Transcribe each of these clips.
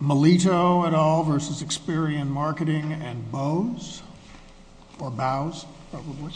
Melito et al. v. Experian Marketing and Bose, or Bows, probably.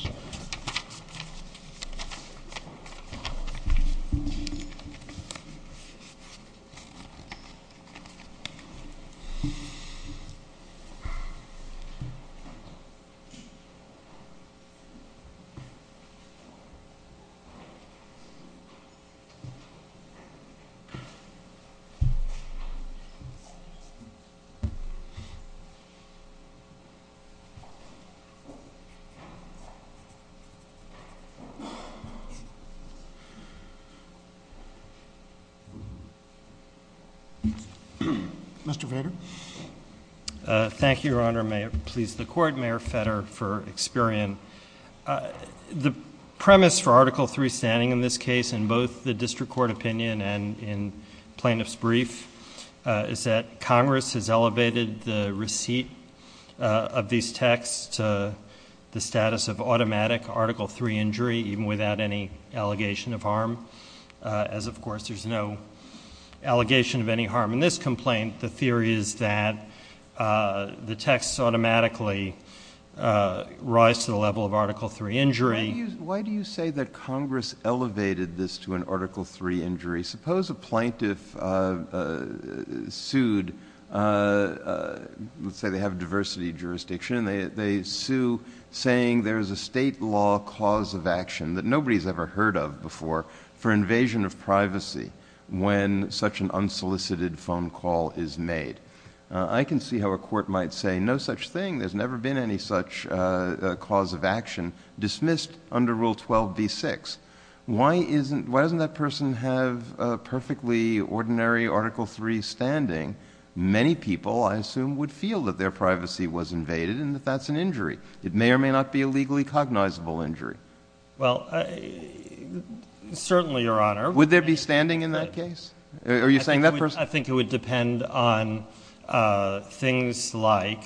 Mr. Feder? Thank you, Your Honor. May it please the Court, Mayor Feder for Experian. The premise for Article III standing in this case in both the district court opinion and in plaintiff's brief is that Congress has elevated the receipt of these texts to the status of automatic Article III injury even without any allegation of harm, as of course there's no allegation of any harm in this complaint. The theory is that the texts automatically rise to the level of Article III injury. Why do you say that Congress elevated this to an Article III injury? Suppose a plaintiff sued, let's say they have a diversity jurisdiction, and they sue saying there's a state law cause of action that nobody's ever heard of before for invasion of privacy when such an unsolicited phone call is made. I can see how a court might say, no such thing, there's never been any such cause of action dismissed under Rule 12b-6. Why doesn't that person have a perfectly ordinary Article III standing? Many people, I assume, would feel that their privacy was invaded and that that's an injury. It may or may not be a legally cognizable injury. Well, certainly, Your Honor. Would there be standing in that case? Are you saying that person— I think it would depend on things like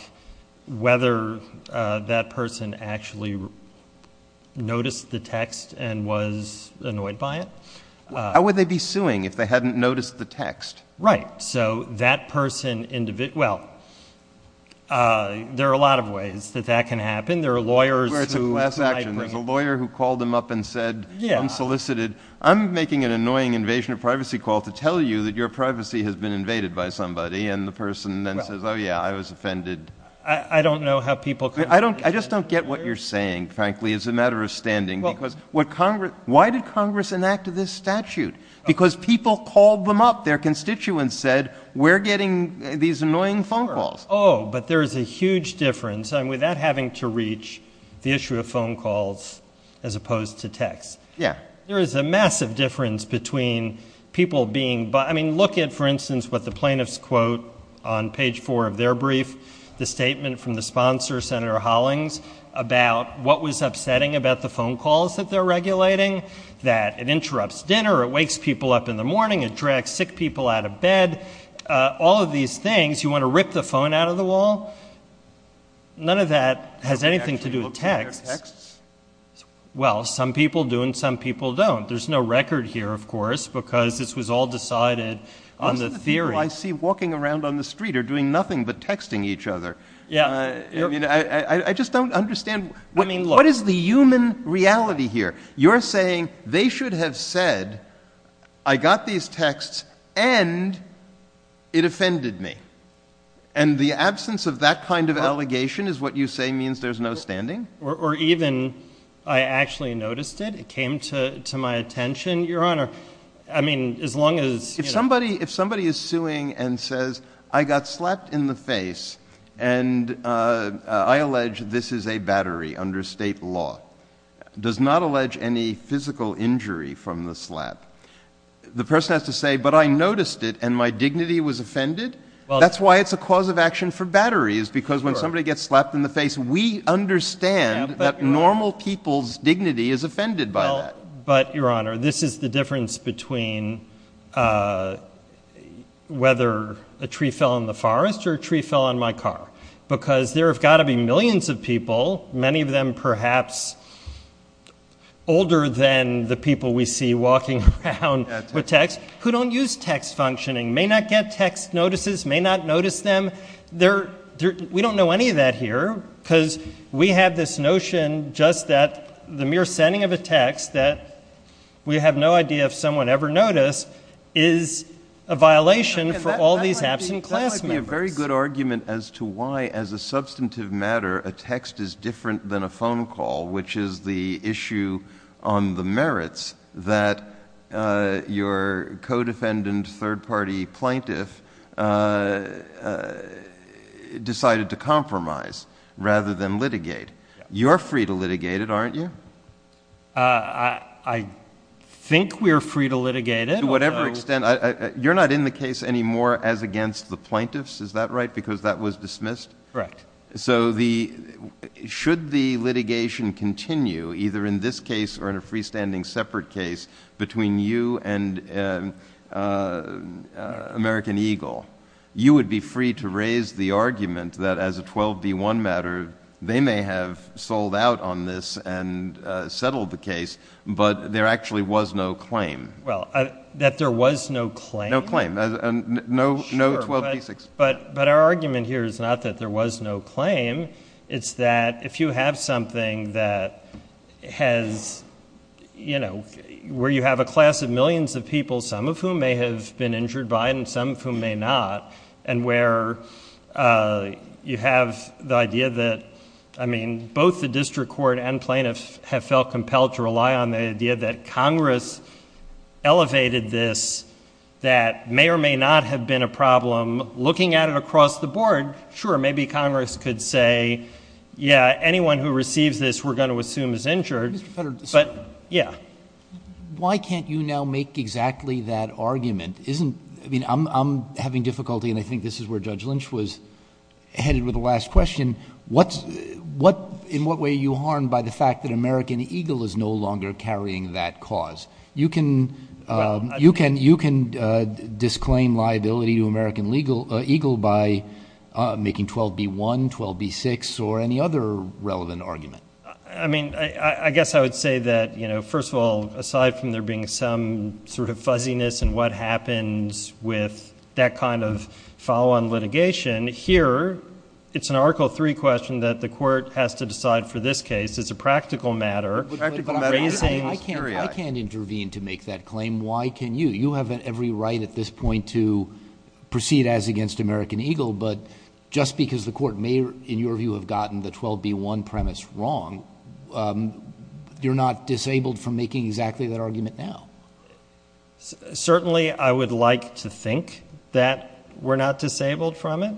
whether that person actually noticed the text and was annoyed by it. How would they be suing if they hadn't noticed the text? Right. So, that person—well, there are a lot of ways that that can happen. There are lawyers who— It's a class action. There's a lawyer who called him up and said, unsolicited, I'm making an annoying invasion of privacy call to tell you that your privacy has been invaded by somebody. The person then says, oh yeah, I was offended. I don't know how people— I just don't get what you're saying, frankly, as a matter of standing. Why did Congress enact this statute? Because people called them up. Their constituents said, we're getting these annoying phone calls. Oh, but there's a huge difference, and without having to reach the issue of phone calls as opposed to text. There is a massive difference between people being—I mean, look at, for instance, what the plaintiffs quote on page 4 of their brief, the statement from the sponsor, Senator Hollings, about what was upsetting about the phone calls that they're regulating, that it interrupts dinner, it wakes people up in the morning, it drags sick people out of bed. All of these things, you want to rip the phone out of the wall? None of that has anything to do with text. Have they actually looked at their texts? Well, some people do and some people don't. There's no record here, of course, because this was all decided on the theory. Most of the people I see walking around on the street are doing nothing but texting each other. Yeah. I mean, I just don't understand. What is the human reality here? You're saying they should have said, I got these texts and it offended me. And the absence of that kind of allegation is what you say means there's no standing? Or even, I actually noticed it, it came to my attention, Your Honor. I mean, as long as— If somebody is suing and says, I got slapped in the face and I allege this is a battery under state law, does not allege any physical injury from the slap, the person has to say, but I noticed it and my dignity was offended? That's why it's a cause of action for batteries, because when somebody gets slapped in the face, we understand that normal people's dignity is offended by that. But Your Honor, this is the difference between whether a tree fell in the forest or a tree fell on my car. Because there have got to be millions of people, many of them perhaps older than the people we see walking around with texts, who don't use text functioning, may not get text notices, may not notice them. We don't know any of that here, because we have this notion just that the mere sending of a text that we have no idea if someone ever noticed is a violation for all these absent class members. That might be a very good argument as to why, as a substantive matter, a text is different than a phone call, which is the issue on the merits that your co-defendant, third-party plaintiff decided to compromise rather than litigate. You're free to litigate it, aren't you? I think we're free to litigate it. To whatever extent. You're not in the case anymore as against the plaintiffs, is that right? Because that was dismissed? Correct. So should the litigation continue, either in this case or in a freestanding separate case between you and American Eagle, you would be free to raise the argument that as a 12b1 matter, they may have sold out on this and settled the case, but there actually was no claim. Well, that there was no claim? No claim. No 12b6. Sure. But our argument here is not that there was no claim. It's that if you have something that has, you know, where you have a class of millions of people, some of whom may have been injured by it and some of whom may not, and where you have the idea that, I mean, both the district court and plaintiffs have felt compelled to rely on the idea that Congress elevated this that may or may not have been a problem. Looking at it across the board, sure, maybe Congress could say, yeah, anyone who receives this we're going to assume is injured, but yeah. I mean, I'm having difficulty, and I think this is where Judge Lynch was headed with the last question, in what way are you harmed by the fact that American Eagle is no longer carrying that cause? You can disclaim liability to American Eagle by making 12b1, 12b6, or any other relevant argument. I mean, I guess I would say that, you know, first of all, aside from there being some sort of fuzziness in what happens with that kind of follow-on litigation, here it's an article three question that the court has to decide for this case. It's a practical matter. I can't intervene to make that claim. Why can you? You have every right at this point to proceed as against American Eagle, but just because the court may, in your view, have gotten the 12b1 premise wrong, you're not disabled from making exactly that argument now. Certainly I would like to think that we're not disabled from it.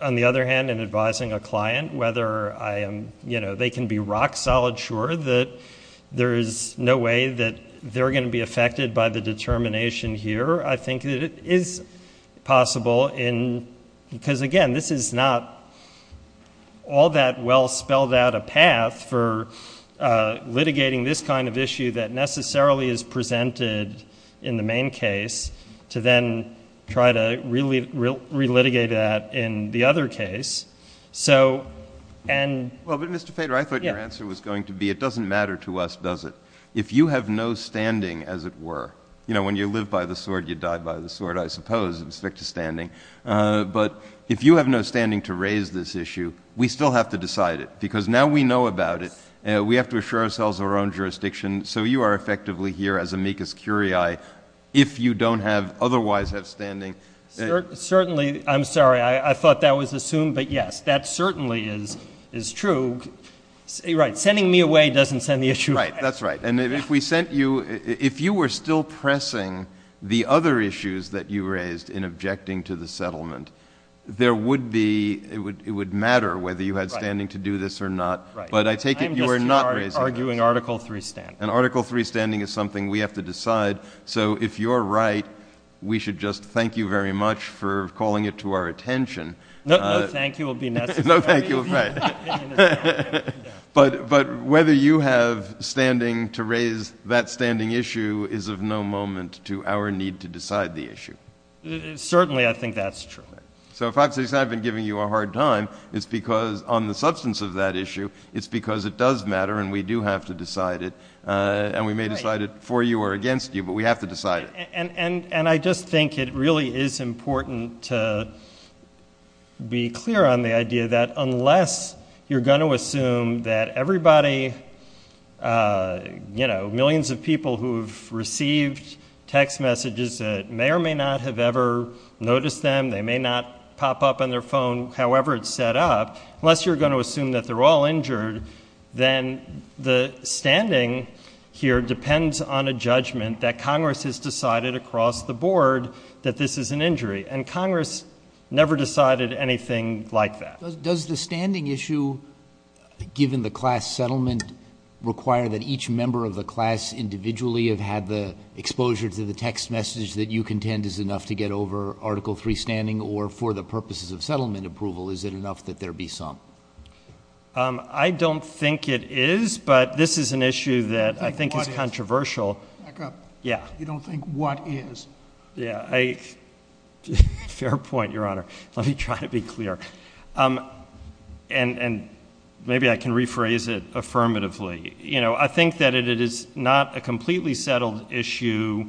On the other hand, in advising a client, whether I am, you know, they can be rock solid sure that there is no way that they're going to be affected by the determination here, I think that it is possible in, because again, this is not all that well spelled out a path for litigating this kind of issue that necessarily is presented in the main case to then try to really relitigate that in the other case. So and. Well, but Mr. Feder, I thought your answer was going to be, it doesn't matter to us, does it? If you have no standing, as it were, you know, when you live by the sword, you die by the sword, I suppose, with respect to standing. But if you have no standing to raise this issue, we still have to decide it, because now we know about it. We have to assure ourselves our own jurisdiction. So you are effectively here as amicus curiae, if you don't have otherwise have standing. Certainly. I'm sorry. I thought that was assumed. But yes, that certainly is, is true. Right. Sending me away doesn't send the issue. Right. That's right. And if we sent you, if you were still pressing the other issues that you raised in objecting to the settlement, there would be, it would, it would matter whether you had standing to do this or not. But I take it you are not arguing Article 3 standing. And Article 3 standing is something we have to decide. So if you're right, we should just thank you very much for calling it to our attention. No, no, thank you will be no thank you. But, but whether you have standing to raise that standing issue is of no moment to our need to decide the issue. Certainly I think that's true. So if I say I've been giving you a hard time, it's because on the substance of that issue, it's because it does matter and we do have to decide it and we may decide it for you or against you, but we have to decide it. And I just think it really is important to be clear on the idea that unless you're going to assume that everybody, you know, millions of people who've received text messages that may or may not have ever noticed them, they may not pop up on their phone, however it's set up, unless you're going to assume that they're all injured, then the standing here has decided across the board that this is an injury and Congress never decided anything like that. Does the standing issue given the class settlement require that each member of the class individually have had the exposure to the text message that you contend is enough to get over article three standing or for the purposes of settlement approval, is it enough that there be some? I don't think it is, but this is an issue that I think is controversial. Yeah. You don't think what is. Yeah. Fair point, Your Honor. Let me try to be clear. And maybe I can rephrase it affirmatively, you know, I think that it is not a completely settled issue,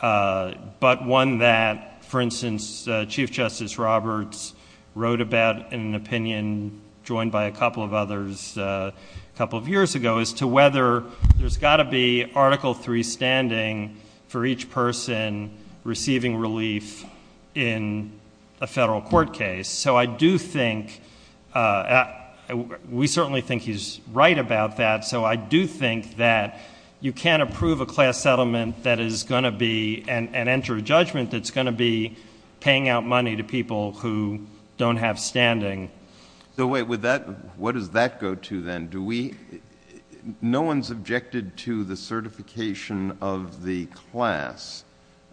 but one that for instance, Chief Justice Roberts wrote about in an opinion joined by a couple of others a couple of years ago as to whether there's got to be article three standing for each person receiving relief in a federal court case. So I do think... we certainly think he's right about that, so I do think that you can't approve a class settlement that is going to be... and enter a judgment that's going to be paying out money to people who don't have standing. So wait, would that... what does that go to then? Do we... no one's objected to the certification of the class.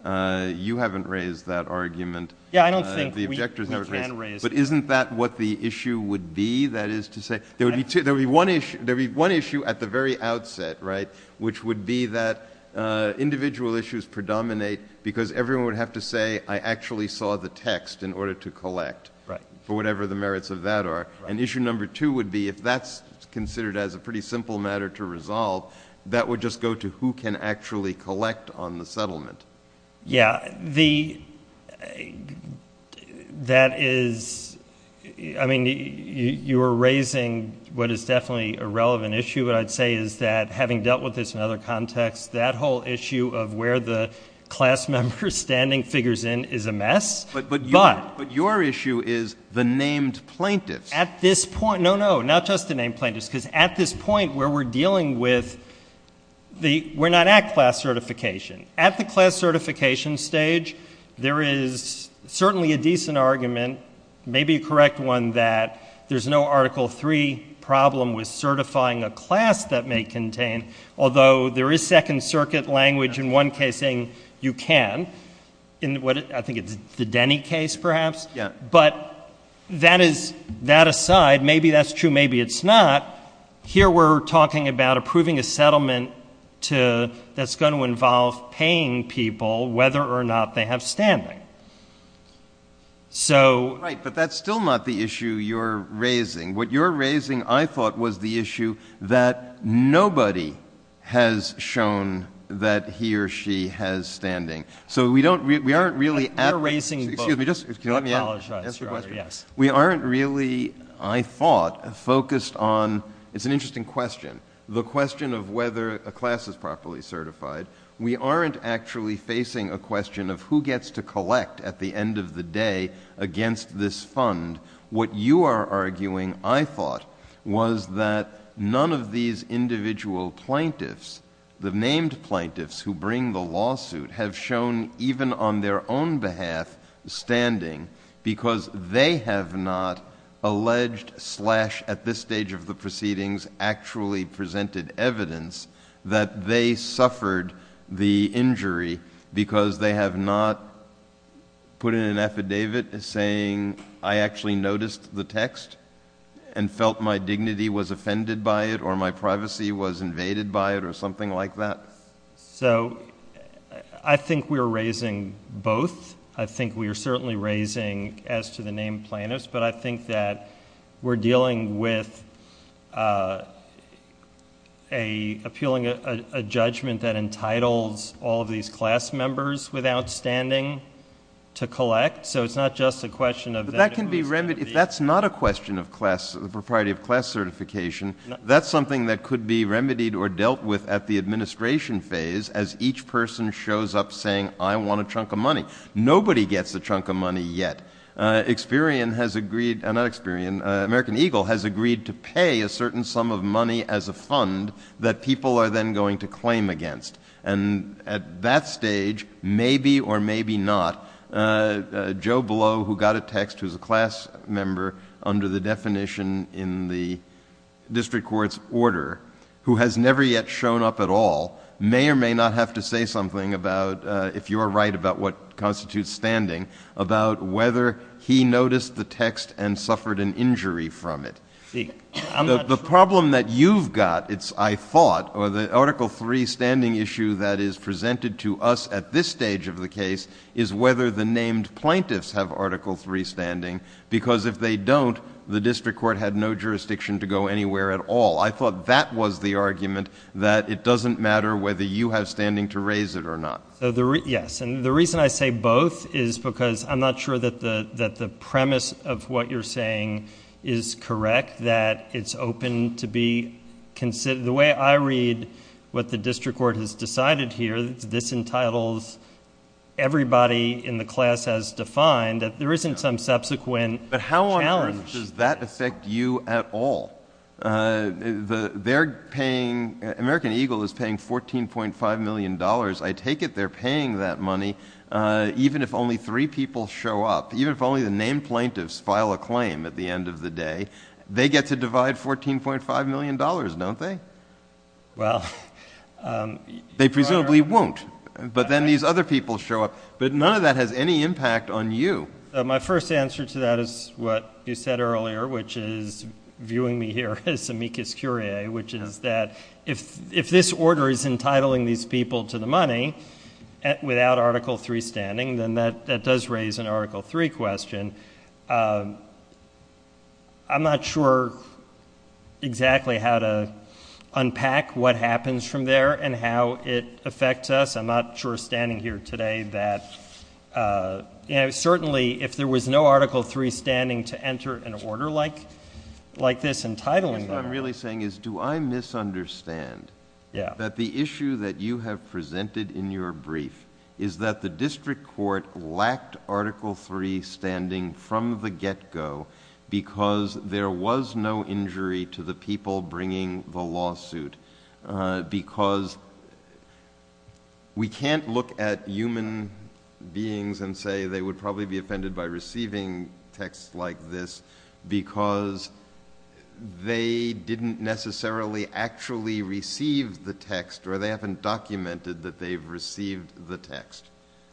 You haven't raised that argument. Yeah, I don't think we can raise it. But isn't that what the issue would be, that is to say, there would be one issue at the very outset, right, which would be that individual issues predominate because everyone would have to say, I actually saw the text in order to collect for whatever the merits of that are. And issue number two would be, if that's considered as a pretty simple matter to resolve, that would just go to who can actually collect on the settlement. Yeah, the... that is... I mean, you are raising what is definitely a relevant issue, but I'd say is that, having dealt with this in other contexts, that whole issue of where the class member standing figures in is a mess, but... At this point... no, no, not just the name plaintiffs, because at this point where we're dealing with the... we're not at class certification. At the class certification stage, there is certainly a decent argument, maybe a correct one that there's no Article III problem with certifying a class that may contain... although there is Second Circuit language in one case saying you can, in what I think it's the Denny case perhaps, but that is... that aside, maybe that's true, maybe it's not. Here we're talking about approving a settlement to... that's going to involve paying people whether or not they have standing. So... Right, but that's still not the issue you're raising. What you're raising, I thought, was the issue that nobody has shown that he or she has standing. So we don't... we aren't really... You're erasing both. Excuse me, just... can you let me ask the question? We aren't really, I thought, focused on... it's an interesting question, the question of whether a class is properly certified. We aren't actually facing a question of who gets to collect at the end of the day against this fund. What you are arguing, I thought, was that none of these individual plaintiffs, the named their own behalf standing because they have not alleged slash at this stage of the proceedings actually presented evidence that they suffered the injury because they have not put in an affidavit saying I actually noticed the text and felt my dignity was offended by it or my privacy was invaded by it or something like that. So I think we are raising both. I think we are certainly raising as to the named plaintiffs, but I think that we're dealing with appealing a judgment that entitles all of these class members without standing to collect. So it's not just a question of... But that can be remedied. If that's not a question of class, the propriety of class certification, that's something that each person shows up saying, I want a chunk of money. Nobody gets a chunk of money yet. Experian has agreed, not Experian, American Eagle has agreed to pay a certain sum of money as a fund that people are then going to claim against. And at that stage, maybe or maybe not, Joe Blow, who got a text, who's a class member under the definition in the district court's order, who has never yet shown up at all, may or may not have to say something about, if you're right about what constitutes standing, about whether he noticed the text and suffered an injury from it. The problem that you've got, I thought, or the Article III standing issue that is presented to us at this stage of the case is whether the named plaintiffs have Article III standing, because if they don't, the district court had no jurisdiction to go anywhere at all. I thought that was the argument, that it doesn't matter whether you have standing to raise it or not. So the... yes. And the reason I say both is because I'm not sure that the premise of what you're saying is correct, that it's open to be... the way I read what the district court has decided here, this entitles everybody in the class as defined, that there isn't some subsequent challenge. But how on earth does that affect you at all? They're paying... American Eagle is paying $14.5 million. I take it they're paying that money even if only three people show up, even if only the named plaintiffs file a claim at the end of the day. They get to divide $14.5 million, don't they? Well... They presumably won't, but then these other people show up, but none of that has any impact on you. My first answer to that is what you said earlier, which is viewing me here as amicus curiae, which is that if this order is entitling these people to the money without Article III standing, then that does raise an Article III question. I'm not sure exactly how to unpack what happens from there and how it affects us. I'm not sure standing here today that... certainly if there was no Article III standing to enter an order like this entitling... What I'm really saying is do I misunderstand that the issue that you have presented in your brief is that the district court lacked Article III standing from the get-go because there was no injury to the people bringing the lawsuit because we can't look at human beings and say they would probably be offended by receiving text like this because they didn't necessarily actually receive the text or they haven't documented that they've received the text.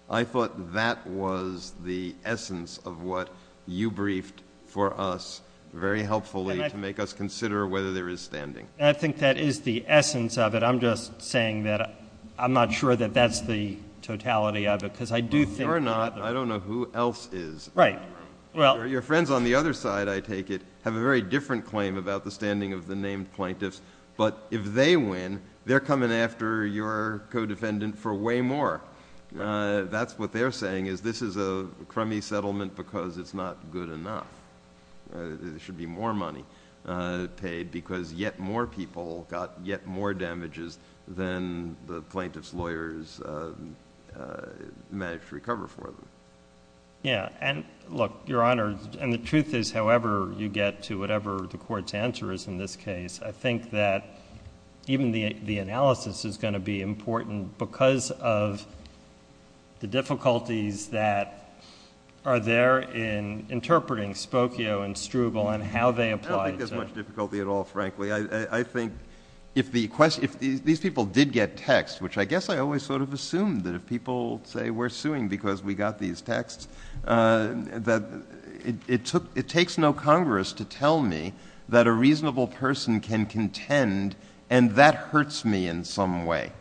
I thought that was the essence of what you briefed for us very helpfully to make us consider whether there is standing. I think that is the essence of it. I'm just saying that I'm not sure that that's the totality of it because I do think... You're not. I don't know who else is. Right. Well... Your friends on the other side, I take it, have a very different claim about the standing of the named plaintiffs, but if they win, they're coming after your co-defendant for way more. Right. That's what they're saying is this is a crummy settlement because it's not good enough. There should be more money paid because yet more people got yet more damages than the plaintiffs' lawyers managed to recover for them. Yeah. Look, Your Honor, the truth is however you get to whatever the court's answer is in this case, I think that even the analysis is going to be important because of the difficulties that are there in interpreting Spokio and Struble and how they apply... I don't think there's much difficulty at all, frankly. I think if these people did get text, which I guess I always sort of assumed that if people say we're suing because we got these texts, that it takes no Congress to tell me that a reasonable person can contend and that hurts me in some way.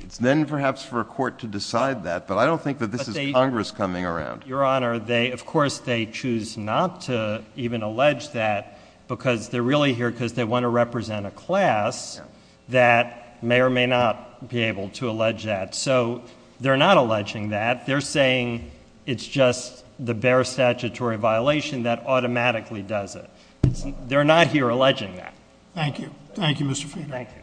It's then perhaps for a court to decide that, but I don't think that this is Congress coming around. Your Honor, of course they choose not to even allege that because they're really here because they want to represent a class that may or may not be able to allege that. So they're not alleging that. They're saying it's just the bare statutory violation that automatically does it. They're not here alleging that. Thank you. Thank you, Mr. Fiedler. Thank you.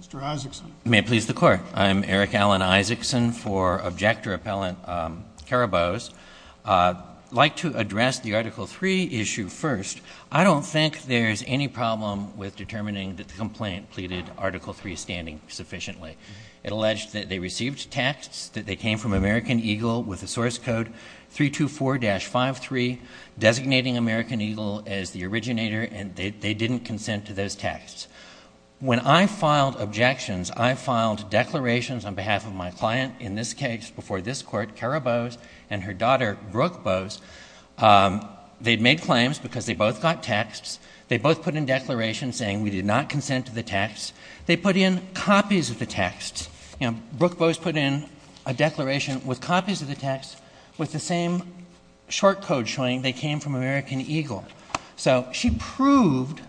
Mr. Isaacson. If you may please the Court, I'm Eric Alan Isaacson for Objector Appellant Karabos. Like to address the Article III issue first, I don't think there's any problem with determining that the complaint pleaded Article III standing sufficiently. It alleged that they received texts, that they came from American Eagle with a source code 324-53, designating American Eagle as the originator, and they didn't consent to those texts. When I filed objections, I filed declarations on behalf of my client, in this case before this Court, Karabos, and her daughter, Brooke Bose. They'd made claims because they both got texts. They both put in declarations saying, we did not consent to the texts. They put in copies of the texts. You know, Brooke Bose put in a declaration with copies of the texts with the same short code showing they came from American Eagle. So she proved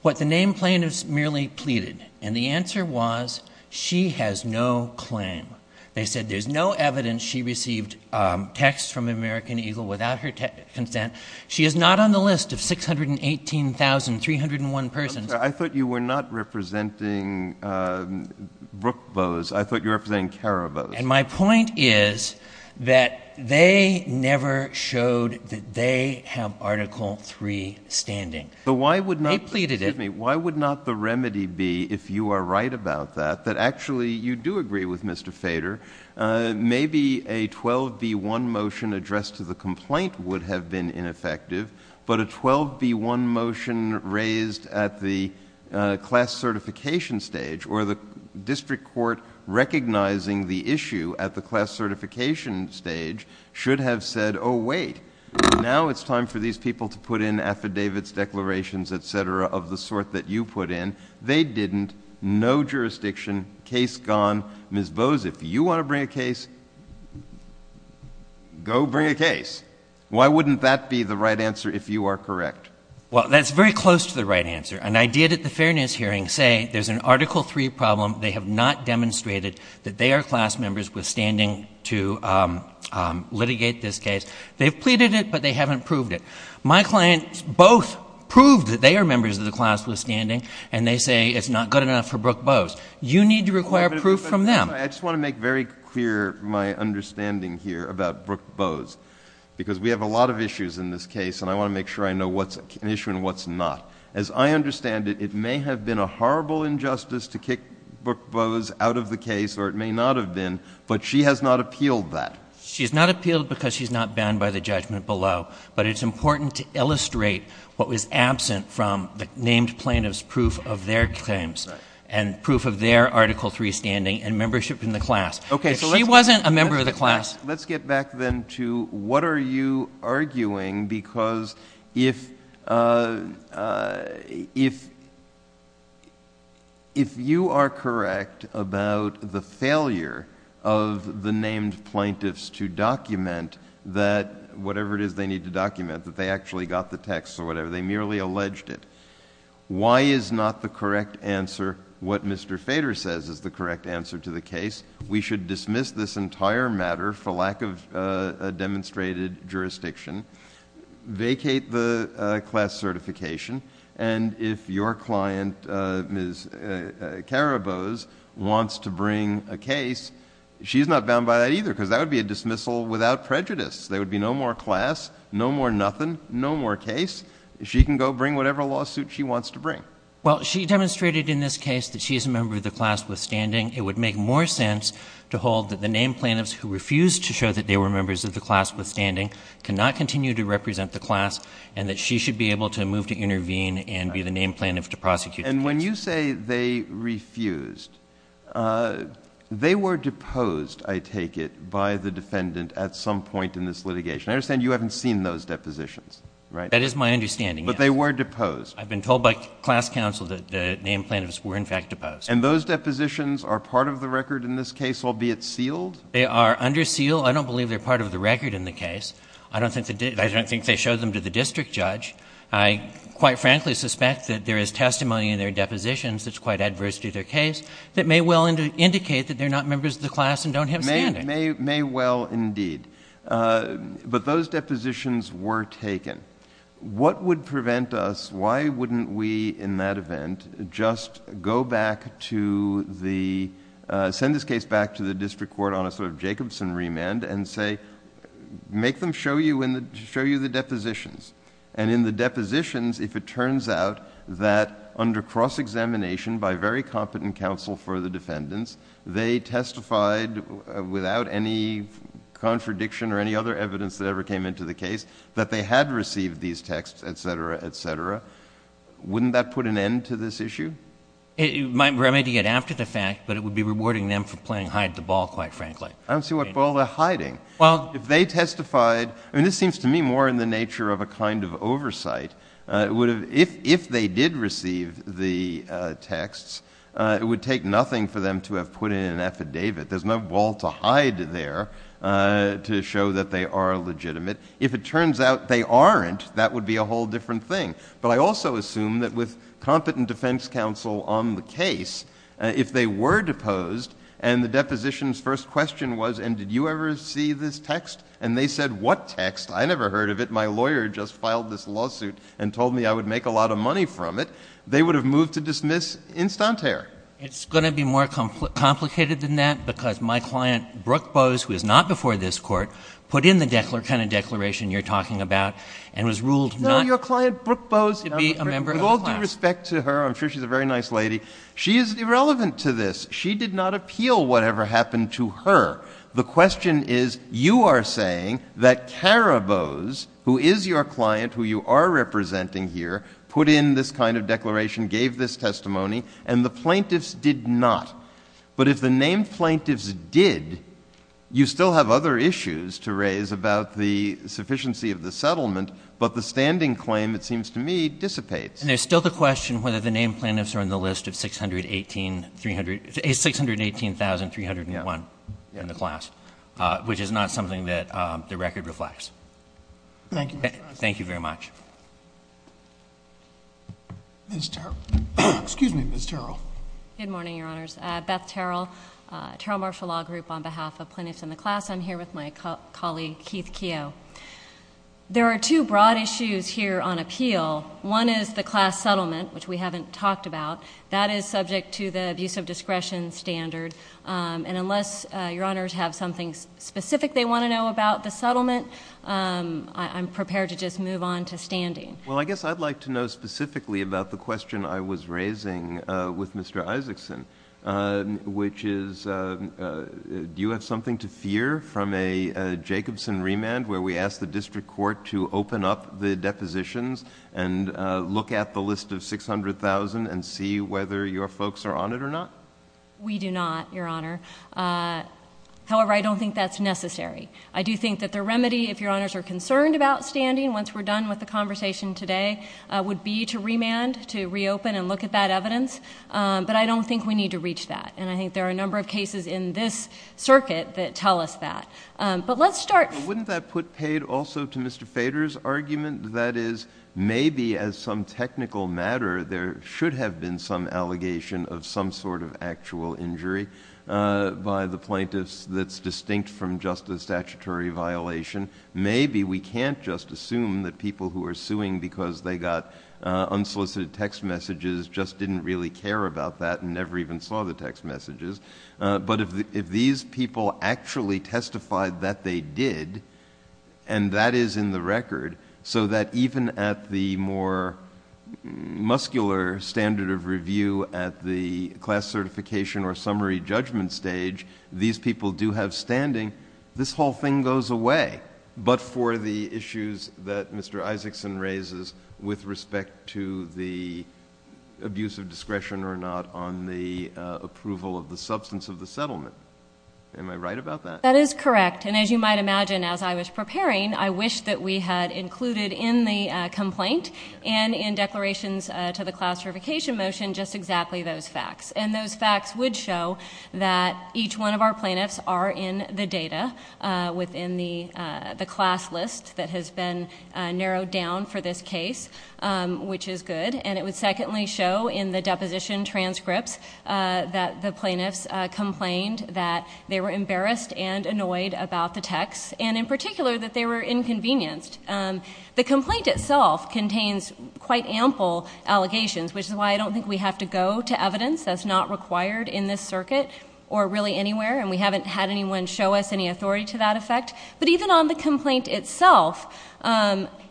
what the name plaintiffs merely pleaded, and the answer was she has no claim. They said there's no evidence she received texts from American Eagle without her consent. She is not on the list of 618,301 persons. I thought you were not representing Brooke Bose. I thought you were representing Karabos. And my point is that they never showed that they have Article III standing. They pleaded it. But why would not the remedy be, if you are right about that, that actually you do agree with Mr. Fader? Maybe a 12B1 motion addressed to the complaint would have been ineffective. But a 12B1 motion raised at the class certification stage, or the district court recognizing the issue at the class certification stage, should have said, oh, wait, now it's time for these people to put in affidavits, declarations, et cetera, of the sort that you put in. They didn't. No jurisdiction. Case gone. Ms. Bose, if you want to bring a case, go bring a case. Why wouldn't that be the right answer if you are correct? Well, that's very close to the right answer. And I did at the fairness hearing say there's an Article III problem. They have not demonstrated that they are class members withstanding to litigate this case. They've pleaded it, but they haven't proved it. My clients both proved that they are members of the class withstanding, and they say it's not good enough for Brooke Bose. You need to require proof from them. I just want to make very clear my understanding here about Brooke Bose. Because we have a lot of issues in this case, and I want to make sure I know what's an issue and what's not. As I understand it, it may have been a horrible injustice to kick Brooke Bose out of the case, or it may not have been, but she has not appealed that. She's not appealed because she's not banned by the judgment below. But it's important to illustrate what was absent from the named plaintiff's proof of their claims and proof of their Article III standing and membership in the class. If she wasn't a member of the class — JUSTICE BREYER. Okay. So let's get back then to what are you arguing, because if you are correct about the failure of the named plaintiffs to document that whatever it is they need to document, that they actually got the text or whatever, they merely alleged it. Why is not the correct answer what Mr. Fader says is the correct answer to the case? We should dismiss this entire matter for lack of demonstrated jurisdiction, vacate the class certification, and if your client, Ms. Kara Bose, wants to bring a case, she's not bound by that either, because that would be a dismissal without prejudice. There would be no more class, no more nothing, no more case. She can go bring whatever lawsuit she wants to bring. MR. CLEMENT. Well, she demonstrated in this case that she is a member of the class withstanding. It would make more sense to hold that the named plaintiffs who refused to show that they were members of the class withstanding cannot continue to represent the class and that she should be able to move to intervene and be the named plaintiff to prosecute the case. JUSTICE BREYER. And when you say they refused, they were deposed, I take it, by the defendant at some point in this litigation. I understand you haven't seen those depositions, right? MR. CLEMENT. That is my understanding, yes. But they were deposed? MR. CLEMENT. I've been told by class counsel that the named plaintiffs were, in fact, deposed. JUSTICE BREYER. And those depositions are part of the record in this case, albeit sealed? MR. CLEMENT. They are under seal. I don't believe they're part of the record in the case. I don't think they did. I don't think they showed them to the district judge. to their case that may well indicate that they're not members of the class and don't have standing. JUSTICE BREYER. But those depositions were taken. What would prevent us, why wouldn't we in that event just go back to the—send this case back to the district court on a sort of Jacobson remand and say, make them show you the depositions? And in the depositions, if it turns out that under cross-examination by very competent counsel for the defendants, they testified without any contradiction or any other evidence that ever came into the case that they had received these texts, et cetera, et cetera, wouldn't that put an end to this issue? MR. CLEMENT. It might remedy it after the fact, but it would be rewarding them for playing hide the ball, quite frankly. JUSTICE BREYER. I don't see what ball they're hiding. CLEMENT. Well— JUSTICE BREYER. If they testified—I mean, this seems to me more in the nature of a kind of oversight. It would have—if they did receive the texts, it would take nothing for them to have put in an affidavit. There's no ball to hide there to show that they are legitimate. If it turns out they aren't, that would be a whole different thing. But I also assume that with competent defense counsel on the case, if they were deposed and the deposition's first question was, and did you ever see this text? And they said, what text? I never heard of it. If my lawyer just filed this lawsuit and told me I would make a lot of money from it, they would have moved to dismiss instantare. MR. CLEMENT. It's going to be more complicated than that because my client, Brooke Bose, who is not before this Court, put in the kind of declaration you're talking about and was ruled not— JUSTICE BREYER. No, your client, Brooke Bose— CLEMENT. —to be a member of the class. JUSTICE BREYER. With all due respect to her, I'm sure she's a very nice lady. She is irrelevant to this. She did not appeal whatever happened to her. The question is, you are saying that Kara Bose, who is your client, who you are representing here, put in this kind of declaration, gave this testimony, and the plaintiffs did not. But if the named plaintiffs did, you still have other issues to raise about the sufficiency of the settlement, but the standing claim, it seems to me, dissipates. MR. CLEMENT. It's 618,301 in the class, which is not something that the record reflects. JUSTICE BREYER. Thank you, Mr. President. MR. Thank you very much. MR. Ms. Terrell. Excuse me, Ms. Terrell. MS. TERRELL. Good morning, Your Honors. Beth Terrell, Terrell Martial Law Group, on behalf of plaintiffs in the class. I'm here with my colleague, Keith Keough. There are two broad issues here on appeal. One is the class settlement, which we haven't talked about. That is subject to the abuse of discretion standard, and unless Your Honors have something specific they want to know about the settlement, I'm prepared to just move on to standing. JUSTICE BREYER. Well, I guess I'd like to know specifically about the question I was raising with Mr. Isaacson, which is, do you have something to fear from a Jacobson remand, where we ask the district court to open up the depositions and look at the list of 600,000 and see whether your folks are on it or not? MS. TERRELL. We do not, Your Honor. However, I don't think that's necessary. I do think that the remedy, if Your Honors are concerned about standing, once we're done with the conversation today, would be to remand, to reopen and look at that evidence, but I don't think we need to reach that, and I think there are a number of cases in this circuit that tell us that. But let's start... JUSTICE BREYER. I would add also to Mr. Feder's argument that is, maybe as some technical matter, there should have been some allegation of some sort of actual injury by the plaintiffs that's distinct from just a statutory violation. Maybe we can't just assume that people who are suing because they got unsolicited text messages just didn't really care about that and never even saw the text messages, but if these people actually testified that they did, and that is in the record, so that even at the more muscular standard of review at the class certification or summary judgment stage, these people do have standing, this whole thing goes away. But for the issues that Mr. Isaacson raises with respect to the abuse of discretion or not on the approval of the substance of the settlement, am I right about that? MS. MOSS. That is correct. And as you might imagine, as I was preparing, I wished that we had included in the complaint and in declarations to the class certification motion just exactly those facts. And those facts would show that each one of our plaintiffs are in the data within the class list that has been narrowed down for this case, which is good, and it would secondly show in the deposition transcripts that the plaintiffs complained that they were embarrassed and annoyed about the text, and in particular that they were inconvenienced. The complaint itself contains quite ample allegations, which is why I don't think we have to go to evidence that's not required in this circuit or really anywhere, and we haven't had anyone show us any authority to that effect. But even on the complaint itself,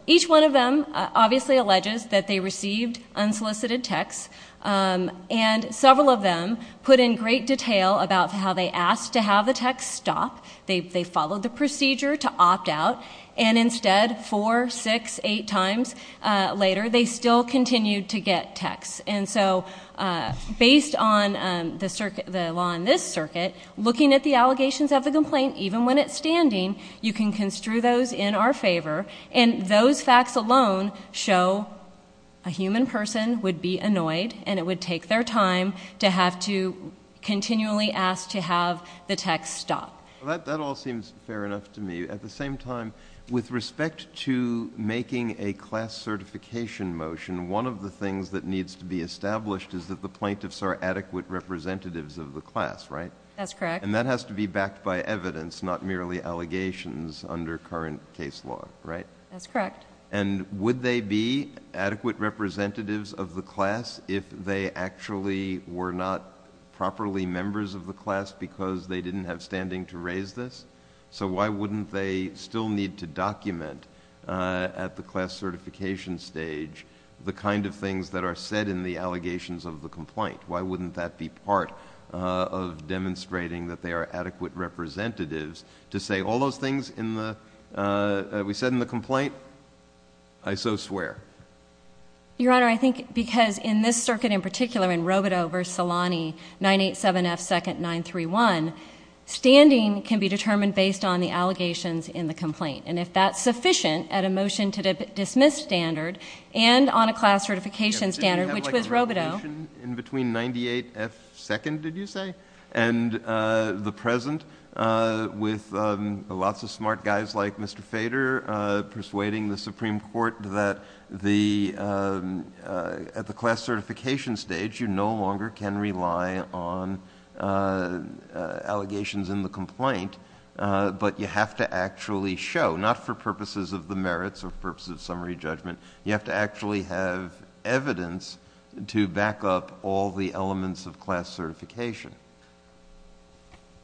each one of them obviously alleges that they received unsolicited texts, and several of them put in great detail about how they asked to have the text stop, they followed the procedure to opt out, and instead, four, six, eight times later, they still continued to get texts. And so based on the law in this circuit, looking at the allegations of the complaint, even when it's standing, you can construe those in our favor, and those facts alone show a human person would be annoyed, and it would take their time to have to continually ask to have the text stop. That all seems fair enough to me. At the same time, with respect to making a class certification motion, one of the things that needs to be established is that the plaintiffs are adequate representatives of the class, right? That's correct. And that has to be backed by evidence, not merely allegations under current case law, right? That's correct. And would they be adequate representatives of the class if they actually were not properly members of the class because they didn't have standing to raise this? So why wouldn't they still need to document at the class certification stage the kind of things that are said in the allegations of the complaint? Why wouldn't that be part of demonstrating that they are adequate representatives to say all those things that we said in the complaint? I so swear. Your Honor, I think because in this circuit in particular, in Robodeau v. Salani, 987 F. 2nd, 931, standing can be determined based on the allegations in the complaint. And if that's sufficient at a motion to dismiss standard and on a class certification standard, which was Robodeau. In between 98 F. 2nd, did you say? And the present with lots of smart guys like Mr. Fader, persuading the Supreme Court that at the class certification stage, you no longer can rely on allegations in the complaint, but you have to actually show, not for purposes of the merits or purposes of summary judgment, you have to actually have evidence to back up all the elements of class certification.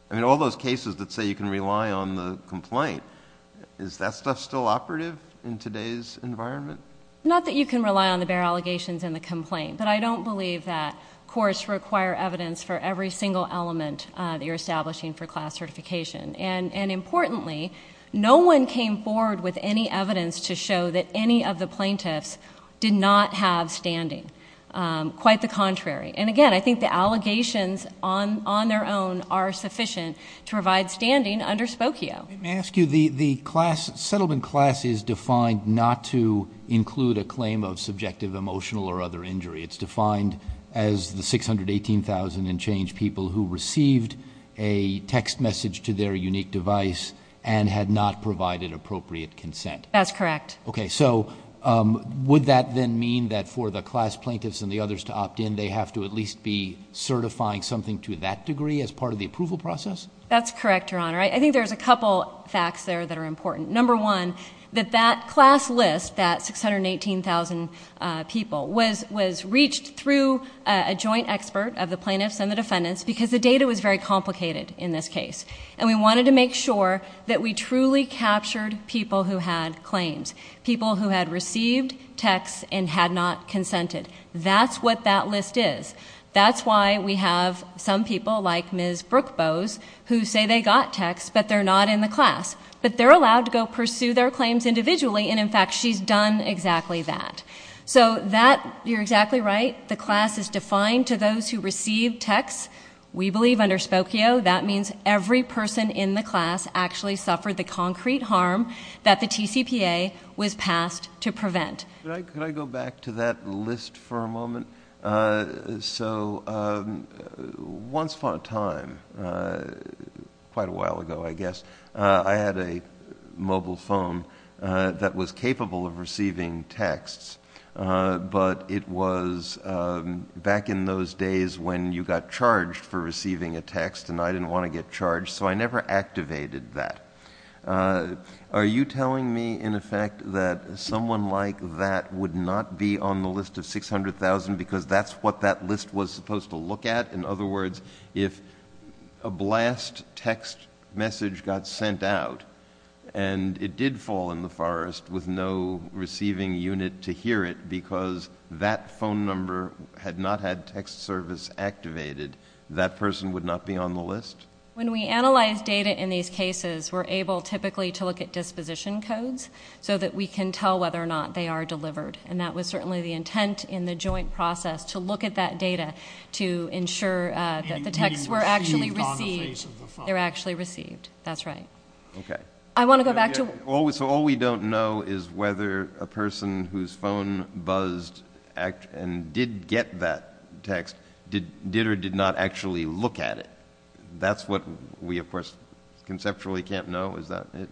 I mean, all those cases that say you can rely on the complaint, is that stuff still operative in today's environment? Not that you can rely on the bare allegations in the complaint, but I don't believe that courts require evidence for every single element that you're establishing for class certification. And importantly, no one came forward with any evidence to show that any of the plaintiffs did not have standing. Quite the contrary. And again, I think the allegations on their own are sufficient to provide standing under Spokio. May I ask you, the settlement class is defined not to include a claim of subjective emotional or other injury. It's defined as the 618,000 and change people who received a text message to their unique device and had not provided appropriate consent. That's correct. Okay, so would that then mean that for the class plaintiffs and the others to opt in, they have to at least be certifying something to that degree as part of the approval process? That's correct, Your Honor. I think there's a couple facts there that are important. Number one, that that class list, that 618,000 people, was reached through a joint expert of the plaintiffs and the defendants because the data was very complicated in this case. And we wanted to make sure that we truly captured people who had claims, people who had received texts and had not consented. That's what that list is. That's why we have some people like Ms. Brooke Bowes who say they got texts, but they're not in the class. But they're allowed to go pursue their claims individually, and in fact, she's done exactly that. So that, you're exactly right, the class is defined to those who received texts. We believe under Spokio, that means every person in the class actually suffered the concrete harm that the TCPA was passed to prevent. Could I go back to that list for a moment? So, once upon a time, quite a while ago, I guess, I had a mobile phone that was capable of receiving texts, but it was back in those days when you got charged for receiving a text and I didn't want to get charged, so I never activated that. Are you telling me, in effect, that someone like that would not be on the list of 600,000 because that's what that list was supposed to look at? In other words, if a blast text message got sent out and it did fall in the forest with no receiving unit to hear it because that phone number had not had text service activated, that person would not be on the list? When we analyze data in these cases, we're able typically to look at disposition codes so that we can tell whether or not they are delivered, and that was certainly the intent in the joint process to look at that data to ensure that the texts were actually received. They're actually received, that's right. I want to go back to... So, all we don't know is whether a person whose phone buzzed and did get that text did or did not actually look at it. That's what we, of course, conceptually can't know, is that it?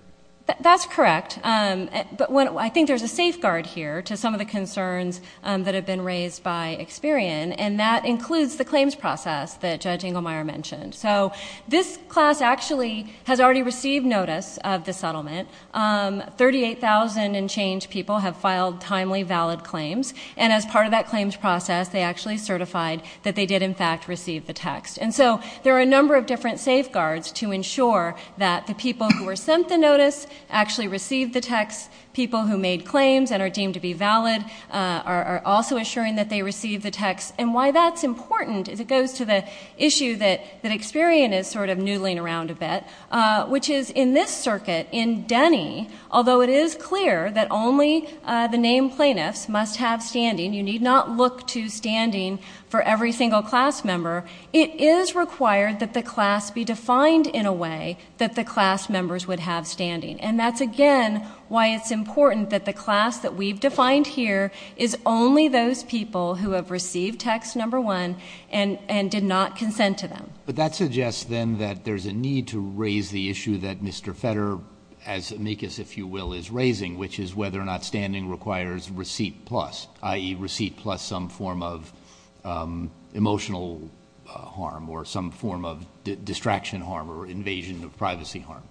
That's correct. I think there's a safeguard here to some of the concerns that have been raised by Experian, and that includes the claims process that Judge Inglemeyer mentioned. This class actually has already received notice of the settlement. 38,000 and change people have filed timely valid claims, and as part of that claims process, they actually certified that they did, in fact, receive the text. There are a number of different safeguards to ensure that the people who were sent the text, people who made claims and are deemed to be valid, are also assuring that they received the text. And why that's important is it goes to the issue that Experian is sort of noodling around a bit, which is in this circuit, in Denny, although it is clear that only the named plaintiffs must have standing, you need not look to standing for every single class member, it is required that the class be defined in a way that the class members would have standing. And that's again why it's important that the class that we've defined here is only those people who have received text number one and did not consent to them. But that suggests then that there's a need to raise the issue that Mr. Fetter, as amicus if you will, is raising, which is whether or not standing requires receipt plus, i.e. receipt plus some form of emotional harm or some form of distraction harm or invasion of privacy harm.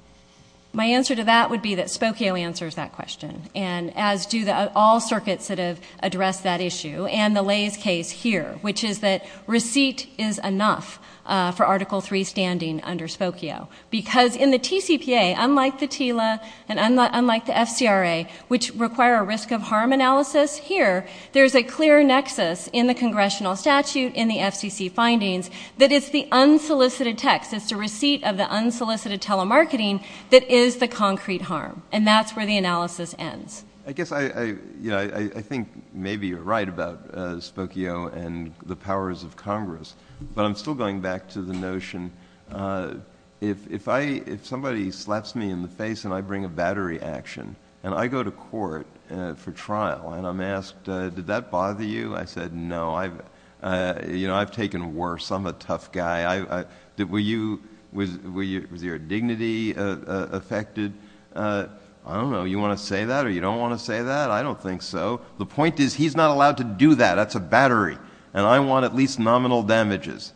My answer to that would be that Spokio answers that question, and as do all circuits that have addressed that issue, and the Lay's case here, which is that receipt is enough for Article III standing under Spokio. Because in the TCPA, unlike the TILA and unlike the FCRA, which require a risk of harm analysis, here there's a clear nexus in the congressional statute, in the FCC findings, that it's the concrete harm. And that's where the analysis ends. I guess I think maybe you're right about Spokio and the powers of Congress, but I'm still going back to the notion, if somebody slaps me in the face and I bring a battery action and I go to court for trial and I'm asked, did that bother you? I said, no, I've taken worse, I'm a tough guy. Was your dignity affected? I don't know, you want to say that or you don't want to say that? I don't think so. The point is he's not allowed to do that, that's a battery, and I want at least nominal damages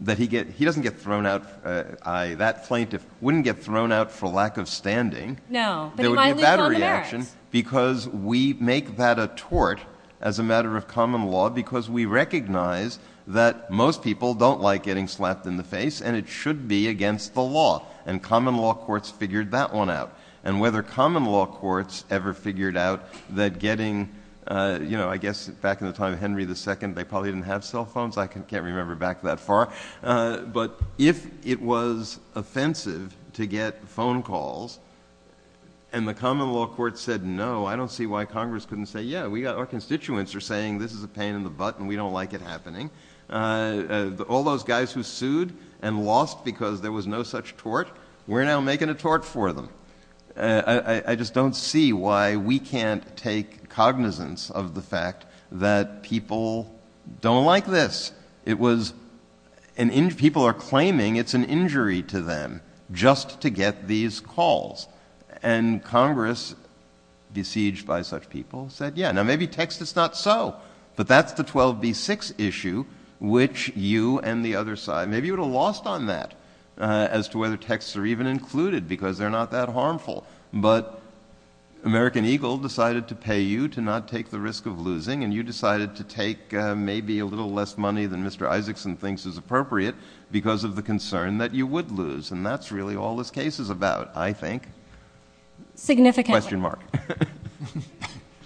that he doesn't get thrown out, that plaintiff wouldn't get thrown out for lack No, but he might lose all the merits. There would be a battery action because we make that a tort as a matter of common law because we recognize that most people don't like getting slapped in the face and it should be against the law. And common law courts figured that one out. And whether common law courts ever figured out that getting, you know, I guess back in the time of Henry II, they probably didn't have cell phones, I can't remember back that far. But if it was offensive to get phone calls and the common law court said, no, I don't see why Congress couldn't say, yeah, we got our constituents are saying this is a pain in the butt and we don't like it happening. All those guys who sued and lost because there was no such tort, we're now making a tort for them. I just don't see why we can't take cognizance of the fact that people don't like this. It was, people are claiming it's an injury to them just to get these calls. And Congress, besieged by such people, said, yeah, now maybe text is not so. But that's the 12B6 issue, which you and the other side, maybe you would have lost on that as to whether texts are even included because they're not that harmful. But American Eagle decided to pay you to not take the risk of losing and you decided to take maybe a little less money than Mr. Isakson thinks is appropriate because of the concern that you would lose. And that's really all this case is about, I think, question mark.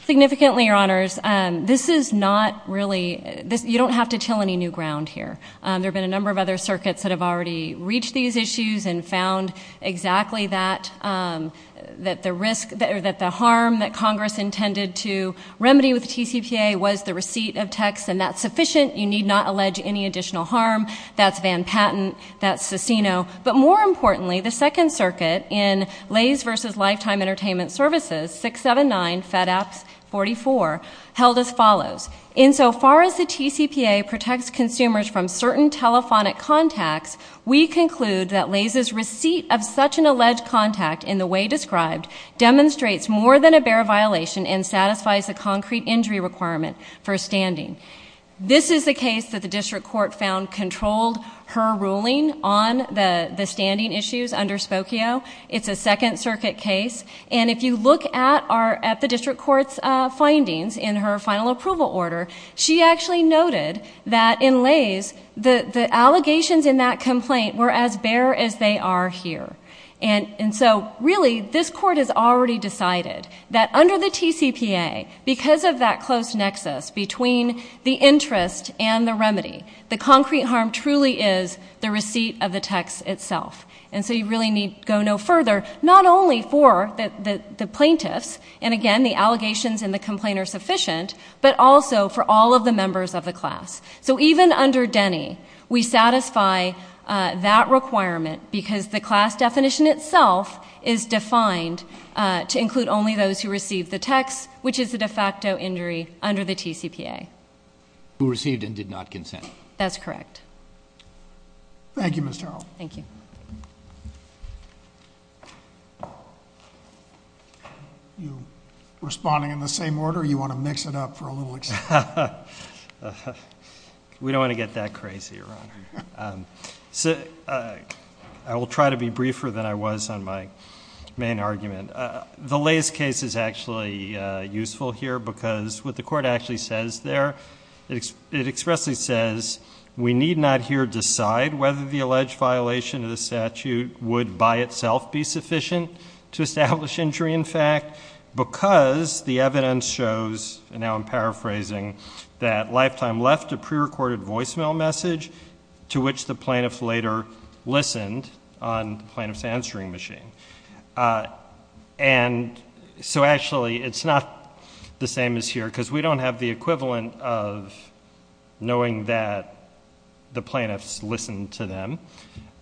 Significantly, Your Honors, this is not really, you don't have to till any new ground here. There have been a number of other circuits that have already reached these issues and found exactly that, that the harm that Congress intended to remedy with TCPA was the receipt of texts and that's sufficient. You need not allege any additional harm. That's Van Patten, that's Cicino. But more importantly, the second circuit in Lays versus Lifetime Entertainment Services, 679 Fed Apps 44, held as follows. In so far as the TCPA protects consumers from certain telephonic contacts, we conclude that Lays' receipt of such an alleged contact in the way described demonstrates more than a bare violation and satisfies the concrete injury requirement for standing. This is the case that the district court found controlled her ruling on the standing issues under Spokio. It's a second circuit case. And if you look at the district court's findings in her final approval order, she actually noted that in Lays, the allegations in that complaint were as bare as they are here. And so really, this court has already decided that under the TCPA, because of that close nexus between the interest and the remedy, the concrete harm truly is the receipt of the text itself. And so you really need go no further, not only for the plaintiffs, and again, the allegations in the complaint are sufficient, but also for all of the members of the class. So even under Denny, we satisfy that requirement because the class definition itself is defined to include only those who received the text, which is the de facto injury under the TCPA. Who received and did not consent. That's correct. Thank you, Ms. Terrell. Thank you. You, responding in the same order, you want to mix it up for a little bit. We don't want to get that crazy, Your Honor. I will try to be briefer than I was on my main argument. The Lays case is actually useful here because what the court actually says there, it expressly says we need not here decide whether the alleged violation of the statute would by itself be sufficient to establish injury in fact, because the evidence shows, and now I'm paraphrasing, that Lifetime left a prerecorded voicemail message to which the plaintiff later listened on the plaintiff's answering machine. And so actually, it's not the same as here because we don't have the equivalent of knowing that the plaintiffs listened to them.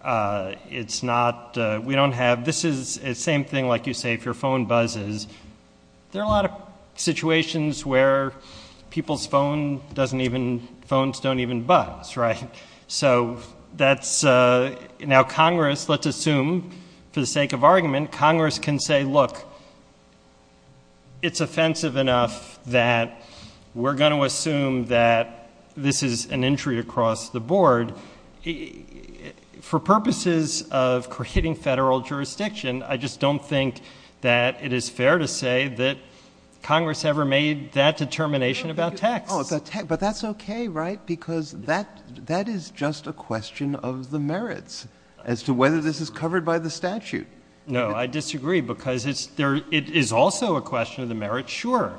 It's not, we don't have, this is the same thing like you say, if your phone buzzes, there are a lot of situations where people's phones don't even buzz, right? So that's, now Congress, let's assume for the sake of argument, Congress can say, look, it's offensive enough that we're going to assume that this is an injury across the board. For purposes of hitting federal jurisdiction, I just don't think that it is fair to say that Congress ever made that determination about tax. But that's okay, right? Because that is just a question of the merits as to whether this is covered by the statute. No, I disagree because it is also a question of the merits, sure,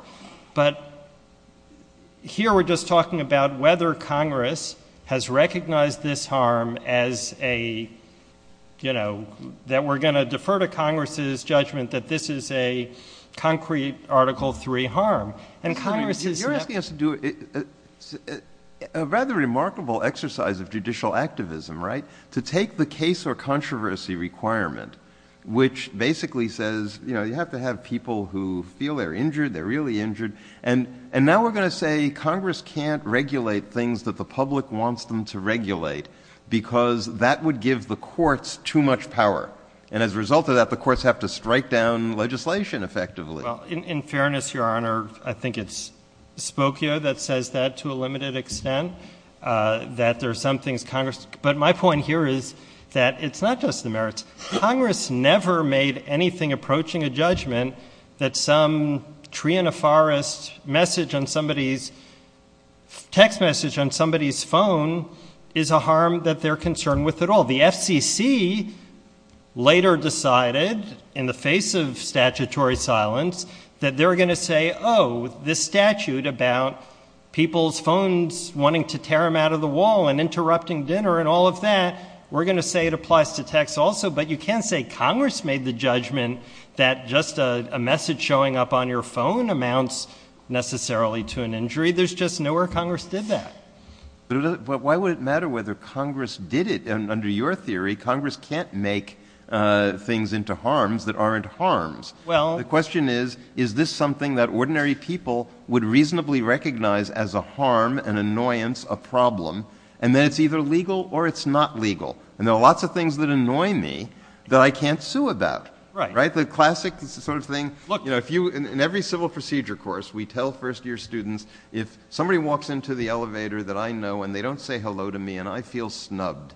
but here we're just talking about whether Congress has recognized this harm as a, you know, that we're going to defer to Congress's judgment that this is a concrete Article III harm. And Congress is- You're asking us to do a rather remarkable exercise of judicial activism, right? To take the case or controversy requirement, which basically says, you know, you have to have people who feel they're injured, they're really injured, and now we're going to say Congress can't regulate things that the public wants them to regulate because that would give the courts too much power. And as a result of that, the courts have to strike down legislation effectively. In fairness, Your Honor, I think it's Spokio that says that to a limited extent, that there are some things Congress- but my point here is that it's not just the merits. Congress never made anything approaching a judgment that some tree in a forest message on somebody's- text message on somebody's phone is a harm that they're concerned with at all. The FCC later decided, in the face of statutory silence, that they're going to say, oh, this statute about people's phones wanting to tear them out of the wall and interrupting dinner and all of that, we're going to say it applies to text also. But you can't say Congress made the judgment that just a message showing up on your phone amounts necessarily to an injury. There's just nowhere Congress did that. Why would it matter whether Congress did it? Under your theory, Congress can't make things into harms that aren't harms. The question is, is this something that ordinary people would reasonably recognize as a harm, an annoyance, a problem, and that it's either legal or it's not legal? And there are lots of things that annoy me that I can't sue about, right? The classic sort of thing, in every civil procedure course, we tell first-year students, if somebody walks into the elevator that I know and they don't say hello to me and I feel snubbed,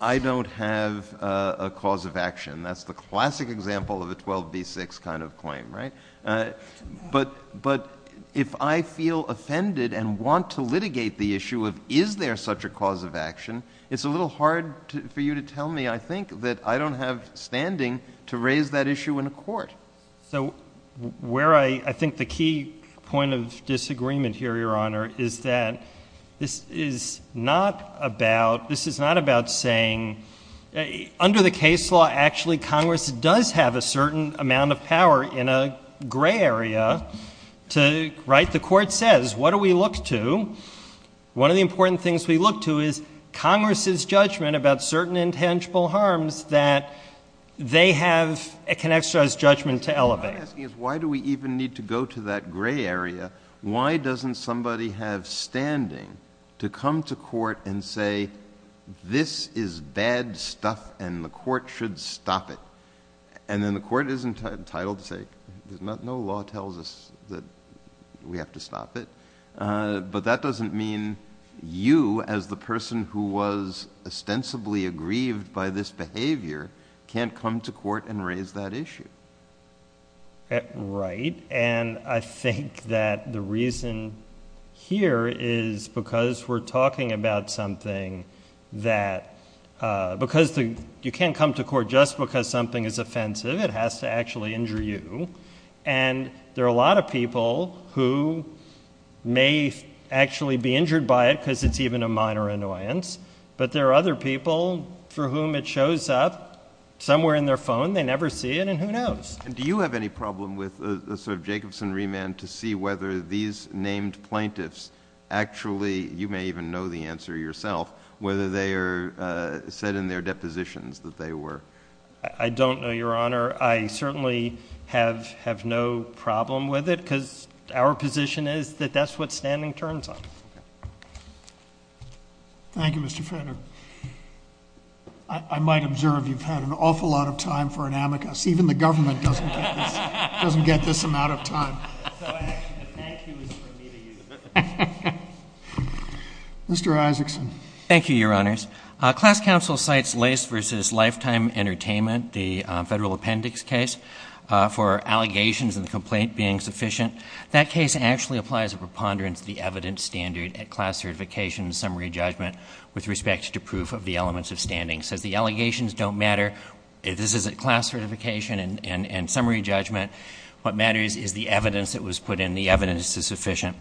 I don't have a cause of action. That's the classic example of a 12b6 kind of claim, right? But if I feel offended and want to litigate the issue of is there such a cause of action, it's a little hard for you to tell me, I think, that I don't have standing to raise that issue in a court. So where I think the key point of disagreement here, Your Honor, is that this is not about saying under the case law, actually, Congress does have a certain amount of power in a gray area to write. The court says, what do we look to? One of the important things we look to is Congress's judgment about certain intangible harms that they have, can exercise judgment to elevate. Why do we even need to go to that gray area? Why doesn't somebody have standing to come to court and say, this is bad stuff and the court should stop it? And then the court isn't entitled to say, no law tells us that we have to stop it. But that doesn't mean you, as the person who was ostensibly aggrieved by this behavior, can't come to court and raise that issue. Right. And I think that the reason here is because we're talking about something that, because you can't come to court just because something is offensive. It has to actually injure you. And there are a lot of people who may actually be injured by it because it's even a minor annoyance. But there are other people for whom it shows up somewhere in their phone. They never see it. And who knows? Do you have any problem with the sort of Jacobson remand to see whether these named plaintiffs actually, you may even know the answer yourself, whether they are said in their depositions that they were. I don't know, Your Honor. I certainly have no problem with it because our position is that that's what standing turns on. Thank you, Mr. Fetter. I might observe you've had an awful lot of time for an amicus. Even the government doesn't get this amount of time. So actually, the thank you is for me to use. Mr. Isaacson. Thank you, Your Honors. Class counsel cites Lace v. Lifetime Entertainment, the federal appendix case, for allegations and the complaint being sufficient. That case actually applies a preponderance to the evidence standard at class certification and summary judgment with respect to proof of the elements of standing. It says the allegations don't matter. This is at class certification and summary judgment. What matters is the evidence that was put in. The evidence is sufficient.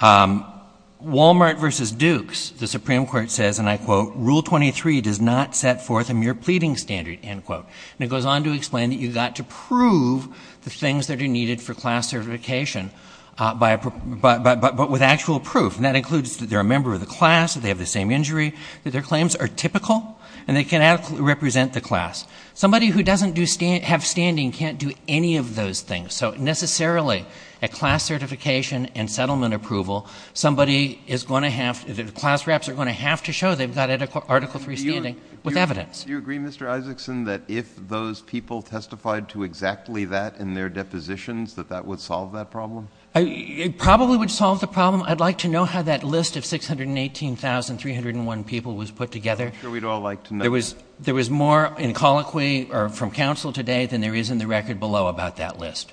Walmart v. Dukes, the Supreme Court says, and I quote, Rule 23 does not set forth a mere pleading standard, end quote. And it goes on to explain that you've got to prove the things that are needed for class certification, but with actual proof, and that includes that they're a member of the class, that they have the same injury, that their claims are typical and they cannot represent the class. Somebody who doesn't have standing can't do any of those things. So necessarily, at class certification and settlement approval, somebody is going to have, the class reps are going to have to show they've got Article III standing with evidence. Do you agree, Mr. Isaacson, that if those people testified to exactly that in their depositions that that would solve that problem? It probably would solve the problem. I'd like to know how that list of 618,301 people was put together. I'm sure we'd all like to know. There was more in colloquy from counsel today than there is in the record below about that list.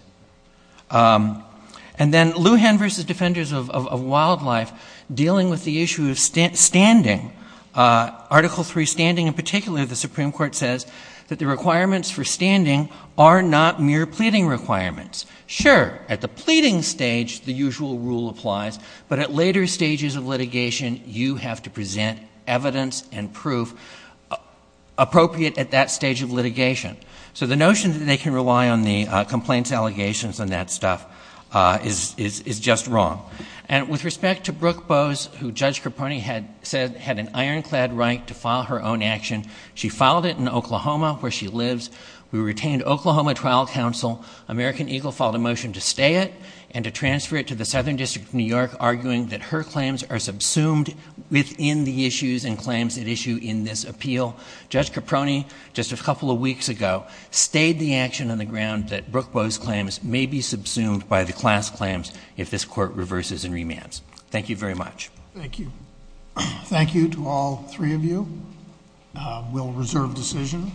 And then Lujan v. Defenders of Wildlife dealing with the issue of standing, Article III standing in particular, the Supreme Court says that the requirements for standing are not mere pleading requirements. Sure, at the pleading stage, the usual rule applies, but at later stages of litigation, you have to present evidence and proof appropriate at that stage of litigation. So the notion that they can rely on the complaints allegations and that stuff is just wrong. And with respect to Brooke Bowes, who Judge Caproni had said had an ironclad right to file her own action, she filed it in Oklahoma, where she lives. We retained Oklahoma trial counsel. American Eagle filed a motion to stay it and to transfer it to the Southern District of New York, arguing that her claims are subsumed within the issues and claims at issue in this appeal. Judge Caproni, just a couple of weeks ago, stayed the action on the ground that Brooke Bowes' claims may be subsumed by the class claims if this court reverses and remands. Thank you very much. Thank you. Thank you to all three of you. We'll reserve decision.